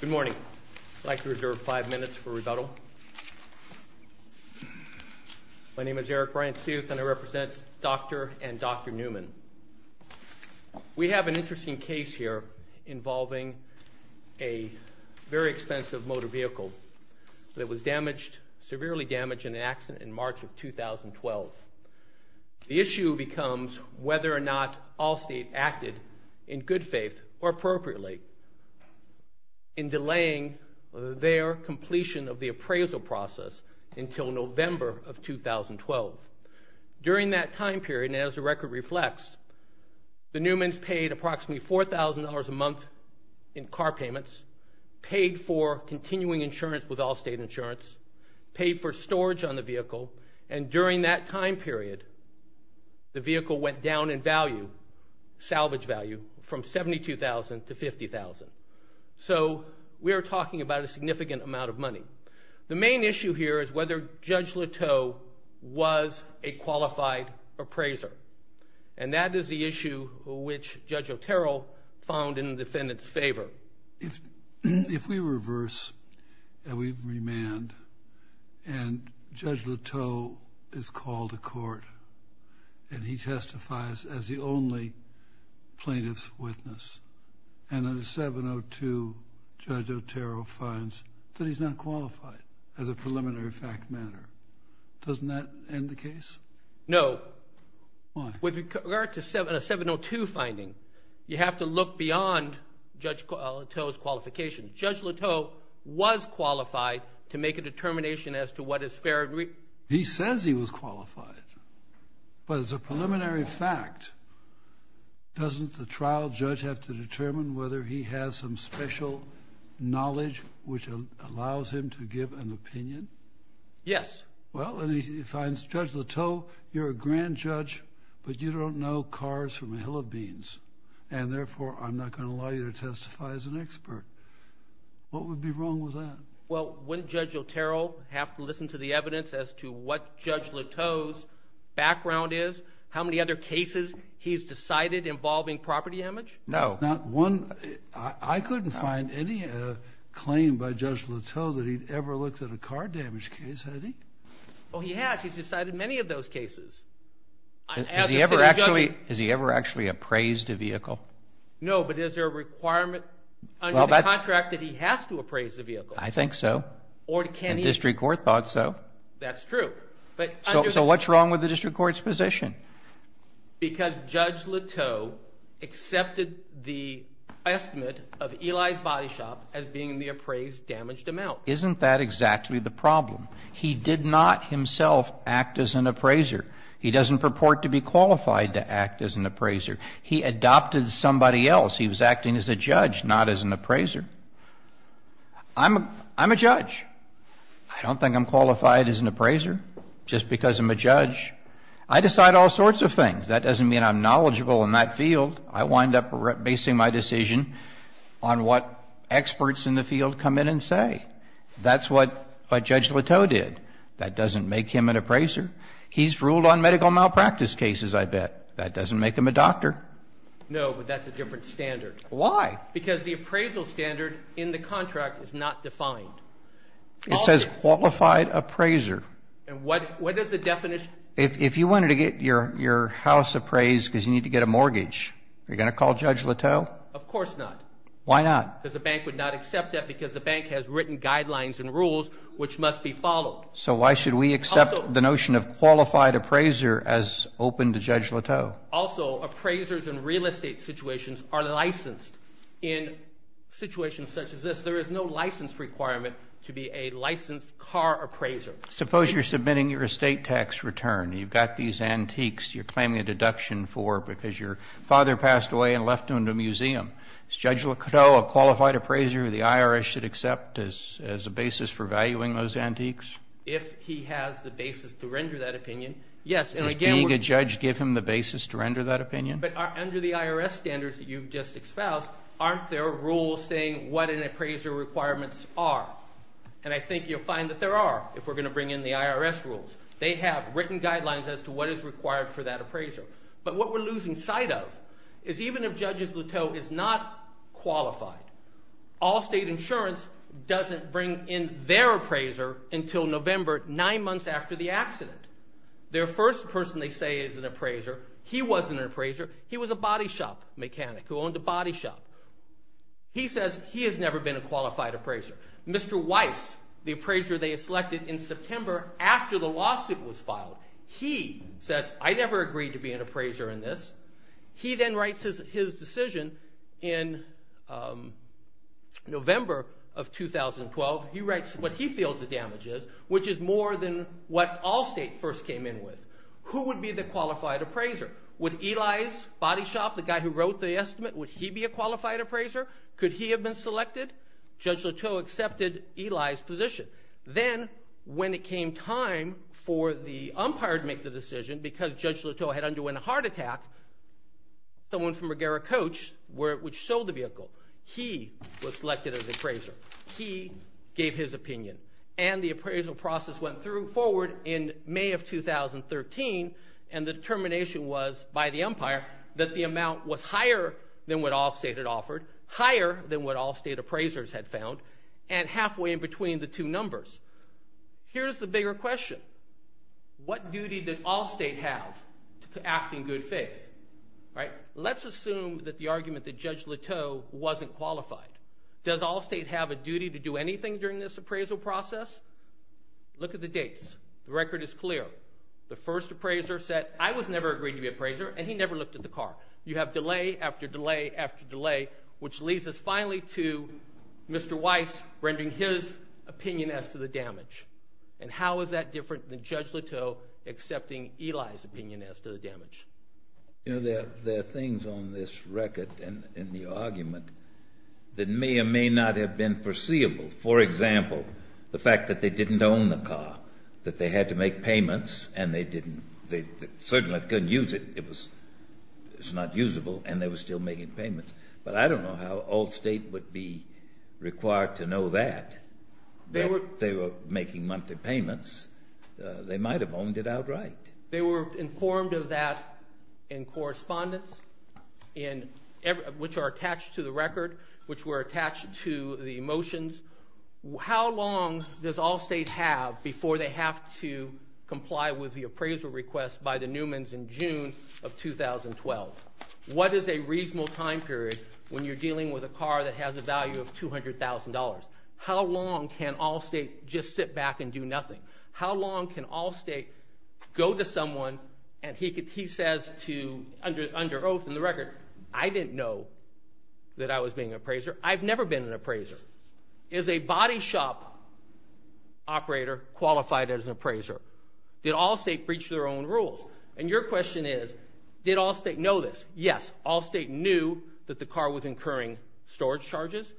Good morning. I'd like to reserve five minutes for rebuttal. My name is Eric Bryant-Seuth and I represent Dr. and Dr. Neumann. We have an interesting case here involving a very expensive motor vehicle that was severely damaged in an accident in March of 2012. The issue becomes whether or not Allstate acted in good faith or appropriately in delaying their completion of the appraisal process until November of 2012. During that time period, and as the record reflects, the Neumanns paid approximately $4,000 a month in car payments, paid for continuing insurance with Allstate Insurance, paid for storage on the vehicle, and during that time period, the vehicle went down in value, salvage value, from $72,000 to $50,000. So we are talking about a significant amount of money. The main issue here is whether Judge Leteau was a qualified appraiser, and that is the issue which Judge Otero found in the defendant's favor. If we reverse and we remand and Judge Leteau is called to court and he testifies as the only plaintiff's witness, and under 702 Judge Otero finds that he's not qualified as a preliminary fact matter, doesn't that end the case? No. Why? With regard to a 702 finding, you have to look beyond Judge Leteau's qualification. Judge Leteau was qualified to make a determination as to what is fair. He says he was qualified, but as a preliminary fact, doesn't the trial judge have to determine whether he has some special knowledge which allows him to give an opinion? Yes. Well, and he finds Judge Leteau, you're a grand judge, but you don't know cars from a hill of beans, and therefore I'm not going to allow you to testify as an expert. What would be wrong with that? Well, wouldn't Judge Otero have to listen to the evidence as to what Judge Leteau's background is, how many other cases he's decided involving property damage? No. I couldn't find any claim by Judge Leteau that he'd ever looked at a car damage case, had he? Oh, he has. He's decided many of those cases. Has he ever actually appraised a vehicle? No, but is there a requirement under the contract that he has to appraise a vehicle? I think so, and district court thought so. That's true. So what's wrong with the district court's position? Because Judge Leteau accepted the estimate of Eli's Body Shop as being the appraised damaged amount. Isn't that exactly the problem? He did not himself act as an appraiser. He doesn't purport to be qualified to act as an appraiser. He adopted somebody else. He was acting as a judge, not as an appraiser. I'm a judge. I don't think I'm qualified as an appraiser just because I'm a judge. I decide all sorts of things. That doesn't mean I'm knowledgeable in that field. I wind up basing my decision on what experts in the field come in and say. That's what Judge Leteau did. That doesn't make him an appraiser. He's ruled on medical malpractice cases, I bet. That doesn't make him a doctor. No, but that's a different standard. Why? Because the appraisal standard in the contract is not defined. It says qualified appraiser. And what is the definition? If you wanted to get your house appraised because you need to get a mortgage, are you going to call Judge Leteau? Of course not. Why not? Because the bank would not accept that because the bank has written guidelines and rules which must be followed. So why should we accept the notion of qualified appraiser as open to Judge Leteau? Also, appraisers in real estate situations are licensed. In situations such as this, there is no license requirement to be a licensed car appraiser. Suppose you're submitting your estate tax return. You've got these antiques you're claiming a deduction for because your father passed away and left them in a museum. Does Judge Leteau, a qualified appraiser, the IRS should accept as a basis for valuing those antiques? If he has the basis to render that opinion, yes. Does being a judge give him the basis to render that opinion? But under the IRS standards that you've just espoused, aren't there rules saying what an appraiser requirements are? And I think you'll find that there are if we're going to bring in the IRS rules. They have written guidelines as to what is required for that appraiser. But what we're losing sight of is even if Judge Leteau is not qualified, Allstate Insurance doesn't bring in their appraiser until November, nine months after the accident. Their first person they say is an appraiser, he wasn't an appraiser. He was a body shop mechanic who owned a body shop. He says he has never been a qualified appraiser. Mr. Weiss, the appraiser they selected in September after the lawsuit was filed, he said I never agreed to be an appraiser in this. He then writes his decision in November of 2012. He writes what he feels the damage is, which is more than what Allstate first came in with. Who would be the qualified appraiser? Would Eli's body shop, the guy who wrote the estimate, would he be a qualified appraiser? Could he have been selected? Judge Leteau accepted Eli's position. Then, when it came time for the umpire to make the decision, because Judge Leteau had underwent a heart attack, someone from Regera Coach, which sold the vehicle, he was selected as appraiser. He gave his opinion. And the appraisal process went forward in May of 2013, and the determination was by the umpire that the amount was higher than what Allstate had offered, higher than what Allstate appraisers had found, and halfway in between the two numbers. Here's the bigger question. What duty did Allstate have to act in good faith? Let's assume that the argument that Judge Leteau wasn't qualified. Does Allstate have a duty to do anything during this appraisal process? Look at the dates. The record is clear. The first appraiser said I was never agreed to be appraiser, and he never looked at the car. You have delay after delay after delay, which leads us finally to Mr. Weiss rendering his opinion as to the damage. And how is that different than Judge Leteau accepting Eli's opinion as to the damage? You know, there are things on this record in the argument that may or may not have been foreseeable. For example, the fact that they didn't own the car, that they had to make payments, and they didn't they certainly couldn't use it. It was not usable, and they were still making payments. But I don't know how Allstate would be required to know that. They were making monthly payments. They might have owned it outright. They were informed of that in correspondence, which are attached to the record, which were attached to the motions. How long does Allstate have before they have to comply with the appraisal request by the Newmans in June of 2012? What is a reasonable time period when you're dealing with a car that has a value of $200,000? How long can Allstate just sit back and do nothing? How long can Allstate go to someone, and he says under oath in the record, I didn't know that I was being an appraiser. I've never been an appraiser. Is a body shop operator qualified as an appraiser? Did Allstate breach their own rules? And your question is, did Allstate know this? Yes, Allstate knew that the car was incurring storage charges.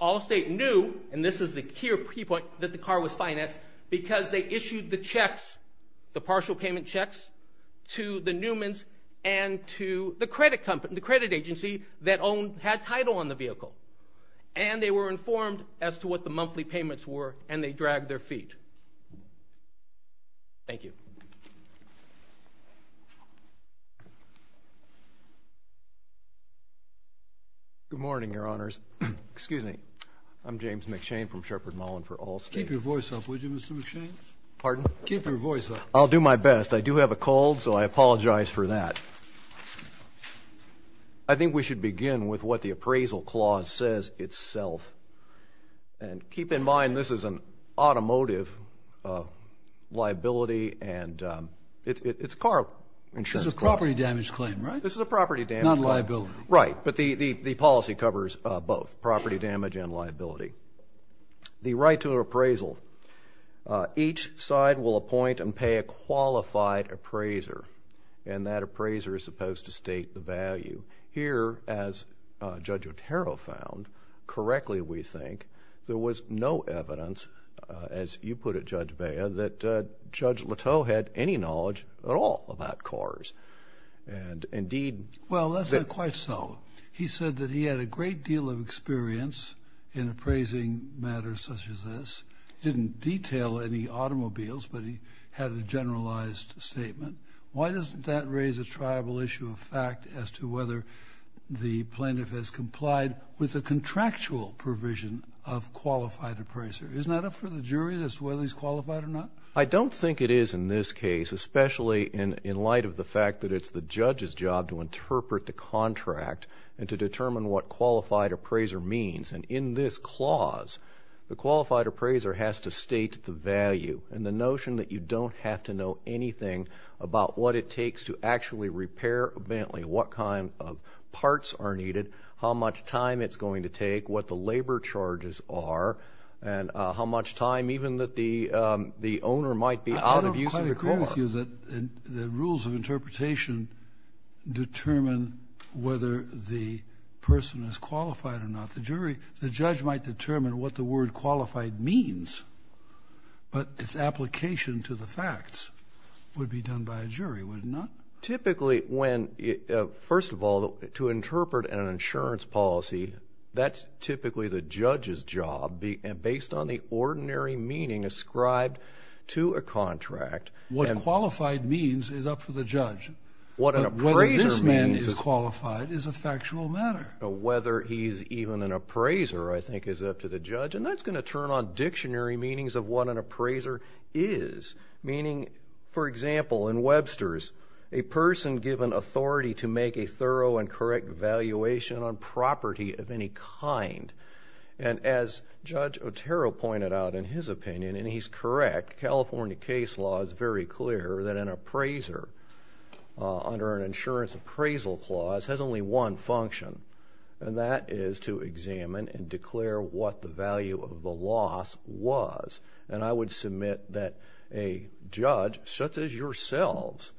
Allstate knew, and this is the key point, that the car was financed because they issued the checks, the partial payment checks to the Newmans and to the credit agency that had title on the vehicle. And they were informed as to what the monthly payments were, and they dragged their feet. Thank you. Good morning, Your Honors. Excuse me. I'm James McShane from Shepard Mullin for Allstate. Keep your voice up, would you, Mr. McShane? Pardon? Keep your voice up. I'll do my best. I do have a cold, so I apologize for that. I think we should begin with what the appraisal clause says itself. And keep in mind, this is an automotive liability, and it's car insurance. This is a property damage claim, right? This is a property damage claim. Not liability. Right, but the policy covers both, property damage and liability. The right to an appraisal. Each side will appoint and pay a qualified appraiser, and that appraiser is supposed to state the value. Here, as Judge Otero found, correctly, we think, there was no evidence, as you put it, Judge Bea, that Judge Leteau had any knowledge at all about cars. And, indeed. Well, that's not quite so. He said that he had a great deal of experience in appraising matters such as this. He didn't detail any automobiles, but he had a generalized statement. Why doesn't that raise a tribal issue of fact as to whether the plaintiff has complied with a contractual provision of qualified appraiser? Isn't that up for the jury as to whether he's qualified or not? I don't think it is in this case, especially in light of the fact that it's the judge's job to interpret the contract and to determine what qualified appraiser means. And in this clause, the qualified appraiser has to state the value. And the notion that you don't have to know anything about what it takes to actually repair a Bentley, what kind of parts are needed, how much time it's going to take, what the labor charges are, and how much time even that the owner might be out of use of the car. I don't quite agree with you that the rules of interpretation determine whether the person is qualified or not. The jury, the judge might determine what the word qualified means, but its application to the facts would be done by a jury, would it not? Typically when, first of all, to interpret an insurance policy, that's typically the judge's job based on the ordinary meaning ascribed to a contract. What qualified means is up to the judge. Whether this man is qualified is a factual matter. Whether he's even an appraiser, I think, is up to the judge. And that's going to turn on dictionary meanings of what an appraiser is. Meaning, for example, in Webster's, a person given authority to make a thorough and correct evaluation on property of any kind. And as Judge Otero pointed out in his opinion, and he's correct, California case law is very clear that an appraiser under an insurance appraisal clause has only one function, and that is to examine and declare what the value of the loss was. And I would submit that a judge, such as yourselves,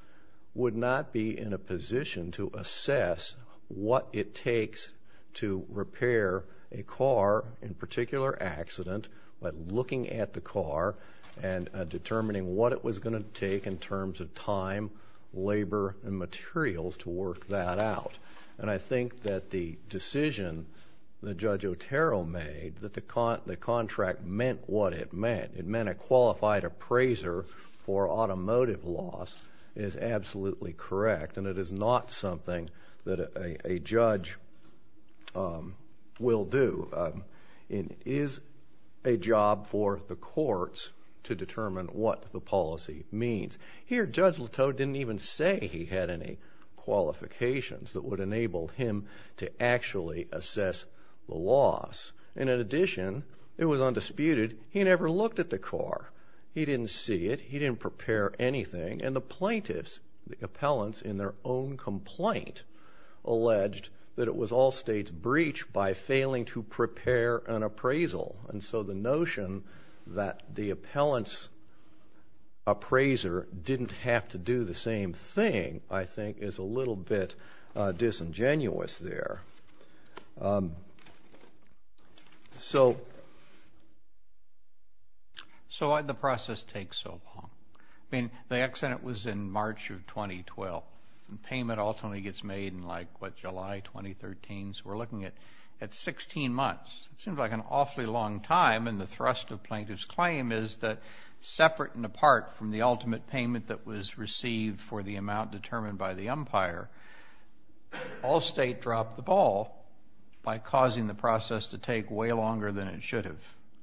would not be in a position to assess what it takes to repair a car, in particular accident, by looking at the car and determining what it was going to take in terms of time, labor, and materials to work that out. And I think that the decision that Judge Otero made, that the contract meant what it meant. It meant a qualified appraiser for automotive loss is absolutely correct, and it is not something that a judge will do. It is a job for the courts to determine what the policy means. Here, Judge Otero didn't even say he had any qualifications that would enable him to actually assess the loss. And in addition, it was undisputed, he never looked at the car. He didn't see it. He didn't prepare anything. And the plaintiffs, the appellants in their own complaint, alleged that it was all states' breach by failing to prepare an appraisal. And so the notion that the appellant's appraiser didn't have to do the same thing, I think, is a little bit disingenuous there. So why did the process take so long? I mean, the accident was in March of 2012, and payment ultimately gets made in, like, what, July 2013? So we're looking at 16 months. It seems like an awfully long time, and the thrust of plaintiff's claim is that separate and apart from the ultimate payment that was received for the amount determined by the umpire, all state dropped the ball by causing the process to take way longer than it should have.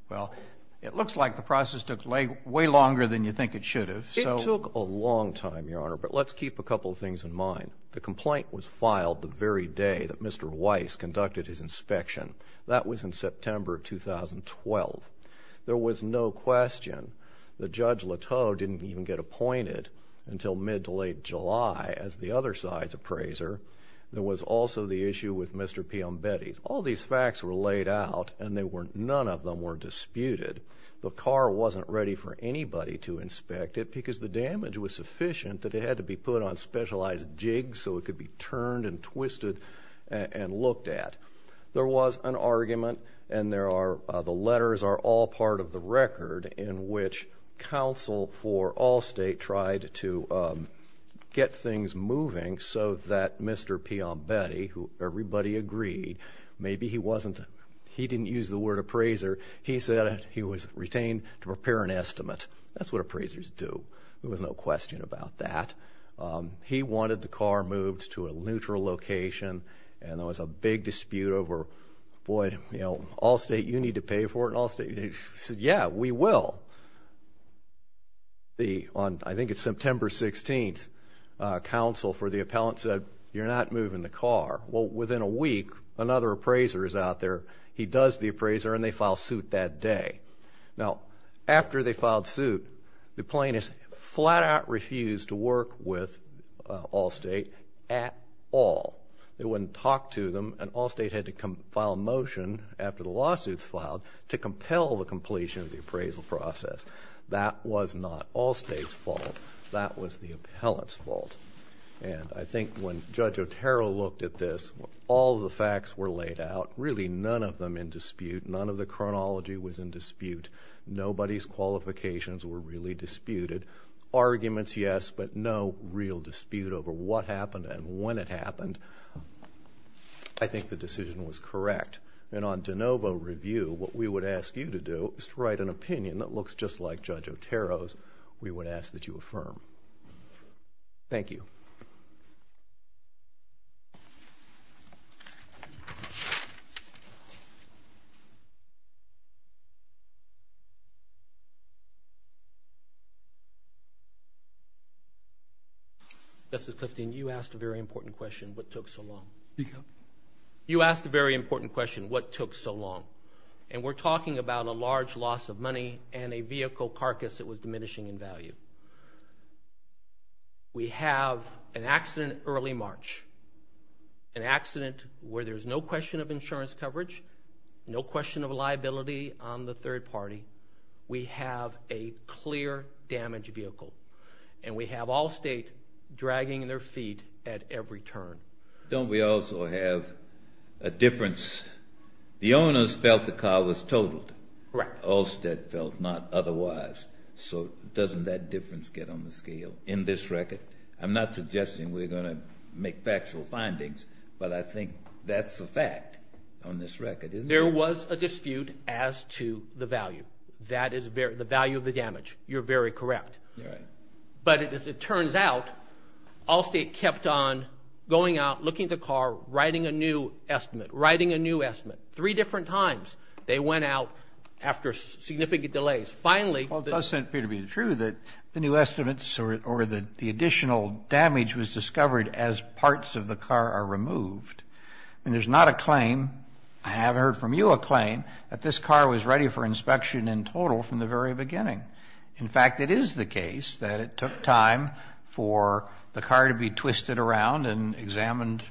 Well, it looks like the process took way longer than you think it should have. It took a long time, Your Honor, but let's keep a couple of things in mind. The complaint was filed the very day that Mr. Weiss conducted his inspection. That was in September of 2012. There was no question that Judge Leteau didn't even get appointed until mid to late July as the other side's appraiser. There was also the issue with Mr. Piombetti. All these facts were laid out, and none of them were disputed. The car wasn't ready for anybody to inspect it because the damage was sufficient that it had to be put on specialized jigs so it could be turned and twisted and looked at. There was an argument, and the letters are all part of the record, in which counsel for all state tried to get things moving so that Mr. Piombetti, who everybody agreed maybe he didn't use the word appraiser, he said he was retained to prepare an estimate. That's what appraisers do. There was no question about that. He wanted the car moved to a neutral location, and there was a big dispute over, boy, all state, you need to pay for it, and all state said, yeah, we will. I think it's September 16th, counsel for the appellant said, you're not moving the car. Well, within a week, another appraiser is out there. He does the appraiser, and they file suit that day. Now, after they filed suit, the plaintiffs flat out refused to work with all state at all. They wouldn't talk to them, and all state had to file a motion after the lawsuit's filed to compel the completion of the appraisal process. That was not all state's fault. That was the appellant's fault. And I think when Judge Otero looked at this, all the facts were laid out, really none of them in dispute. None of the chronology was in dispute. Nobody's qualifications were really disputed. Arguments, yes, but no real dispute over what happened and when it happened. I think the decision was correct. And on de novo review, what we would ask you to do is to write an opinion that looks just like Judge Otero's. We would ask that you affirm. Thank you. Thank you. Justice Clifton, you asked a very important question, what took so long. You asked a very important question, what took so long. And we're talking about a large loss of money and a vehicle carcass that was diminishing in value. We have an accident early March, an accident where there's no question of insurance coverage, no question of liability on the third party. We have a clear damaged vehicle. And we have Allstate dragging their feet at every turn. Don't we also have a difference? The owners felt the car was totaled. Correct. Allstate felt not otherwise. So doesn't that difference get on the scale in this record? I'm not suggesting we're going to make factual findings, but I think that's a fact on this record, isn't it? There was a dispute as to the value. That is the value of the damage. You're very correct. All right. But as it turns out, Allstate kept on going out, looking at the car, writing a new estimate, writing a new estimate. Three different times they went out after significant delays. Well, it does seem to be true that the new estimates or the additional damage was discovered as parts of the car are removed. And there's not a claim, I haven't heard from you a claim, that this car was ready for inspection in total from the very beginning. In fact, it is the case that it took time for the car to be twisted around and examined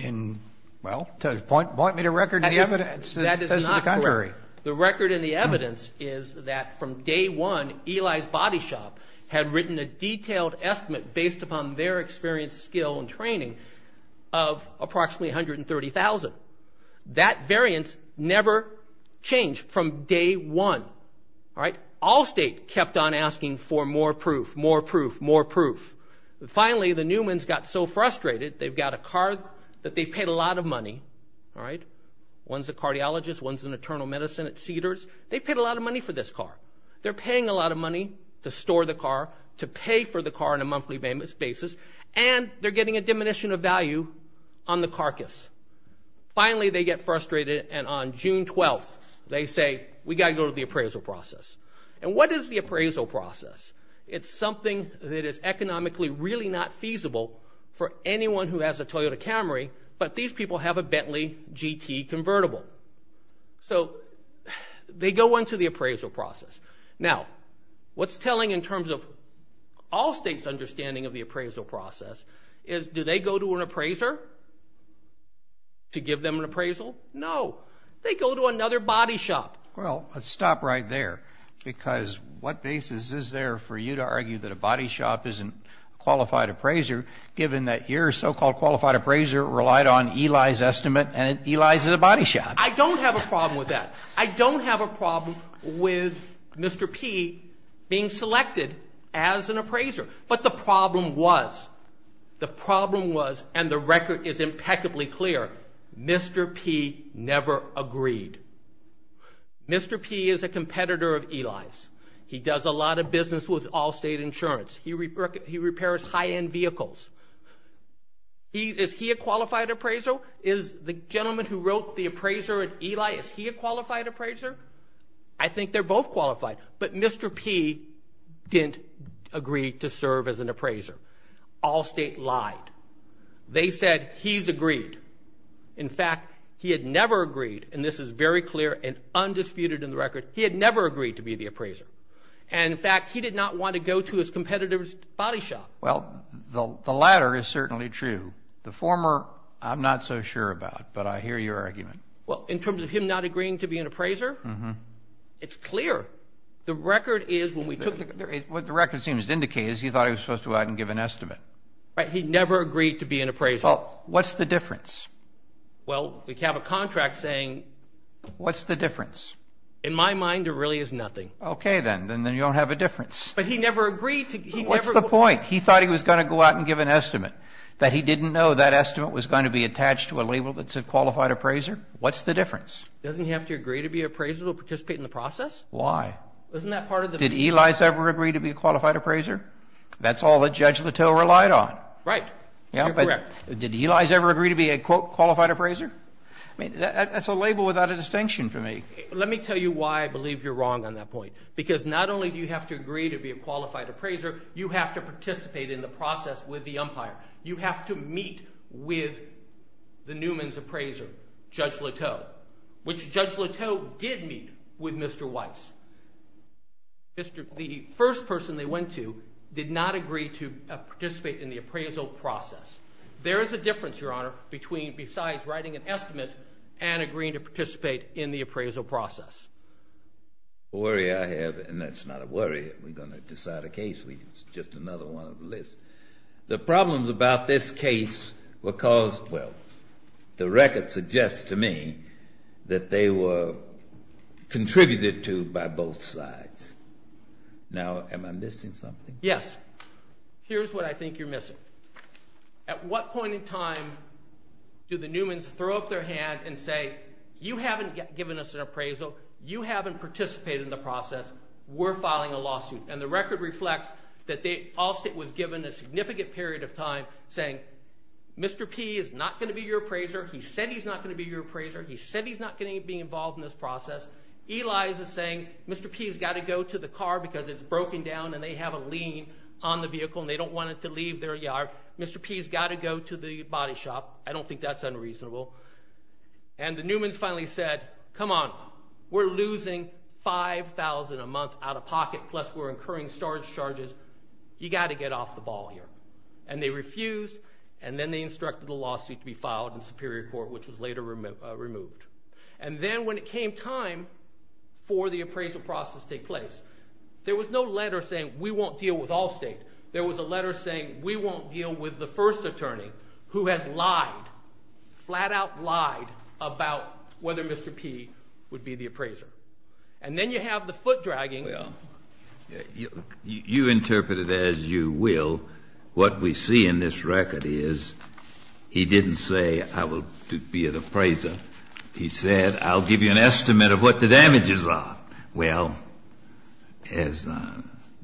in, well, point me to record evidence that says the contrary. The record and the evidence is that from day one, Eli's Body Shop had written a detailed estimate based upon their experience, skill, and training of approximately 130,000. That variance never changed from day one. Allstate kept on asking for more proof, more proof, more proof. Finally, the Newman's got so frustrated, they've got a car that they've paid a lot of money. One's a cardiologist, one's in internal medicine at Cedars. They've paid a lot of money for this car. They're paying a lot of money to store the car, to pay for the car on a monthly basis, and they're getting a diminution of value on the carcass. Finally, they get frustrated, and on June 12th, they say, we've got to go to the appraisal process. And what is the appraisal process? It's something that is economically really not feasible for anyone who has a Toyota Camry, but these people have a Bentley GT convertible. So they go into the appraisal process. Now, what's telling in terms of Allstate's understanding of the appraisal process is do they go to an appraiser to give them an appraisal? No. They go to another body shop. Well, let's stop right there because what basis is there for you to argue that a body shop isn't a qualified appraiser, given that your so-called qualified appraiser relied on Eli's estimate and Eli's is a body shop? I don't have a problem with that. I don't have a problem with Mr. P being selected as an appraiser. But the problem was, the problem was, and the record is impeccably clear, Mr. P never agreed. Mr. P is a competitor of Eli's. He does a lot of business with Allstate Insurance. He repairs high-end vehicles. Is he a qualified appraiser? Is the gentleman who wrote the appraiser at Eli, is he a qualified appraiser? I think they're both qualified, but Mr. P didn't agree to serve as an appraiser. Allstate lied. They said he's agreed. In fact, he had never agreed, and this is very clear and undisputed in the record. He had never agreed to be the appraiser. And, in fact, he did not want to go to his competitor's body shop. Well, the latter is certainly true. The former, I'm not so sure about, but I hear your argument. Well, in terms of him not agreeing to be an appraiser, it's clear. The record is when we took the record. What the record seems to indicate is he thought he was supposed to go out and give an estimate. Right. He never agreed to be an appraiser. Well, what's the difference? Well, we have a contract saying. What's the difference? In my mind, there really is nothing. Okay, then. Then you don't have a difference. But he never agreed to. What's the point? He thought he was going to go out and give an estimate, that he didn't know that estimate was going to be attached to a label that said qualified appraiser. What's the difference? Doesn't he have to agree to be an appraiser to participate in the process? Why? Isn't that part of the... Did Eli's ever agree to be a qualified appraiser? That's all that Judge Littell relied on. Right. You're correct. Did Eli's ever agree to be a, quote, qualified appraiser? I mean, that's a label without a distinction for me. Let me tell you why I believe you're wrong on that point. Because not only do you have to agree to be a qualified appraiser, you have to participate in the process with the umpire. You have to meet with the Newman's appraiser, Judge Littell, which Judge Littell did meet with Mr. Weiss. The first person they went to did not agree to participate in the appraisal process. There is a difference, Your Honor, between besides writing an estimate and agreeing to participate in the appraisal process. The worry I have, and that's not a worry, we're going to decide a case. It's just another one of a list. The problems about this case were caused... Now, am I missing something? Yes. Here's what I think you're missing. At what point in time do the Newman's throw up their hand and say, you haven't given us an appraisal. You haven't participated in the process. We're filing a lawsuit. And the record reflects that Allstate was given a significant period of time saying, Mr. P is not going to be your appraiser. He said he's not going to be your appraiser. He said he's not going to be involved in this process. Eli's is saying, Mr. P's got to go to the car because it's broken down and they have a lien on the vehicle and they don't want it to leave their yard. Mr. P's got to go to the body shop. I don't think that's unreasonable. And the Newman's finally said, come on. We're losing $5,000 a month out of pocket, plus we're incurring storage charges. You got to get off the ball here. And they refused, and then they instructed the lawsuit to be filed in Superior Court, which was later removed. And then when it came time for the appraisal process to take place, there was no letter saying we won't deal with Allstate. There was a letter saying we won't deal with the first attorney who has lied, flat out lied, about whether Mr. P would be the appraiser. And then you have the foot dragging. You interpret it as you will. What we see in this record is he didn't say I will be an appraiser. He said, I'll give you an estimate of what the damages are. Well, as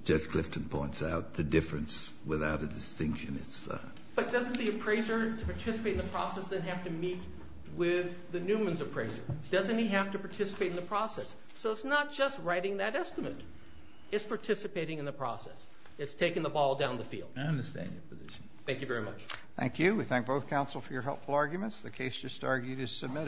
Judge Clifton points out, the difference without a distinction is. But doesn't the appraiser to participate in the process then have to meet with the Newman's appraiser? Doesn't he have to participate in the process? So it's not just writing that estimate. It's participating in the process. It's taking the ball down the field. I understand your position. Thank you very much. Thank you. We thank both counsel for your helpful arguments. The case just argued is submitted.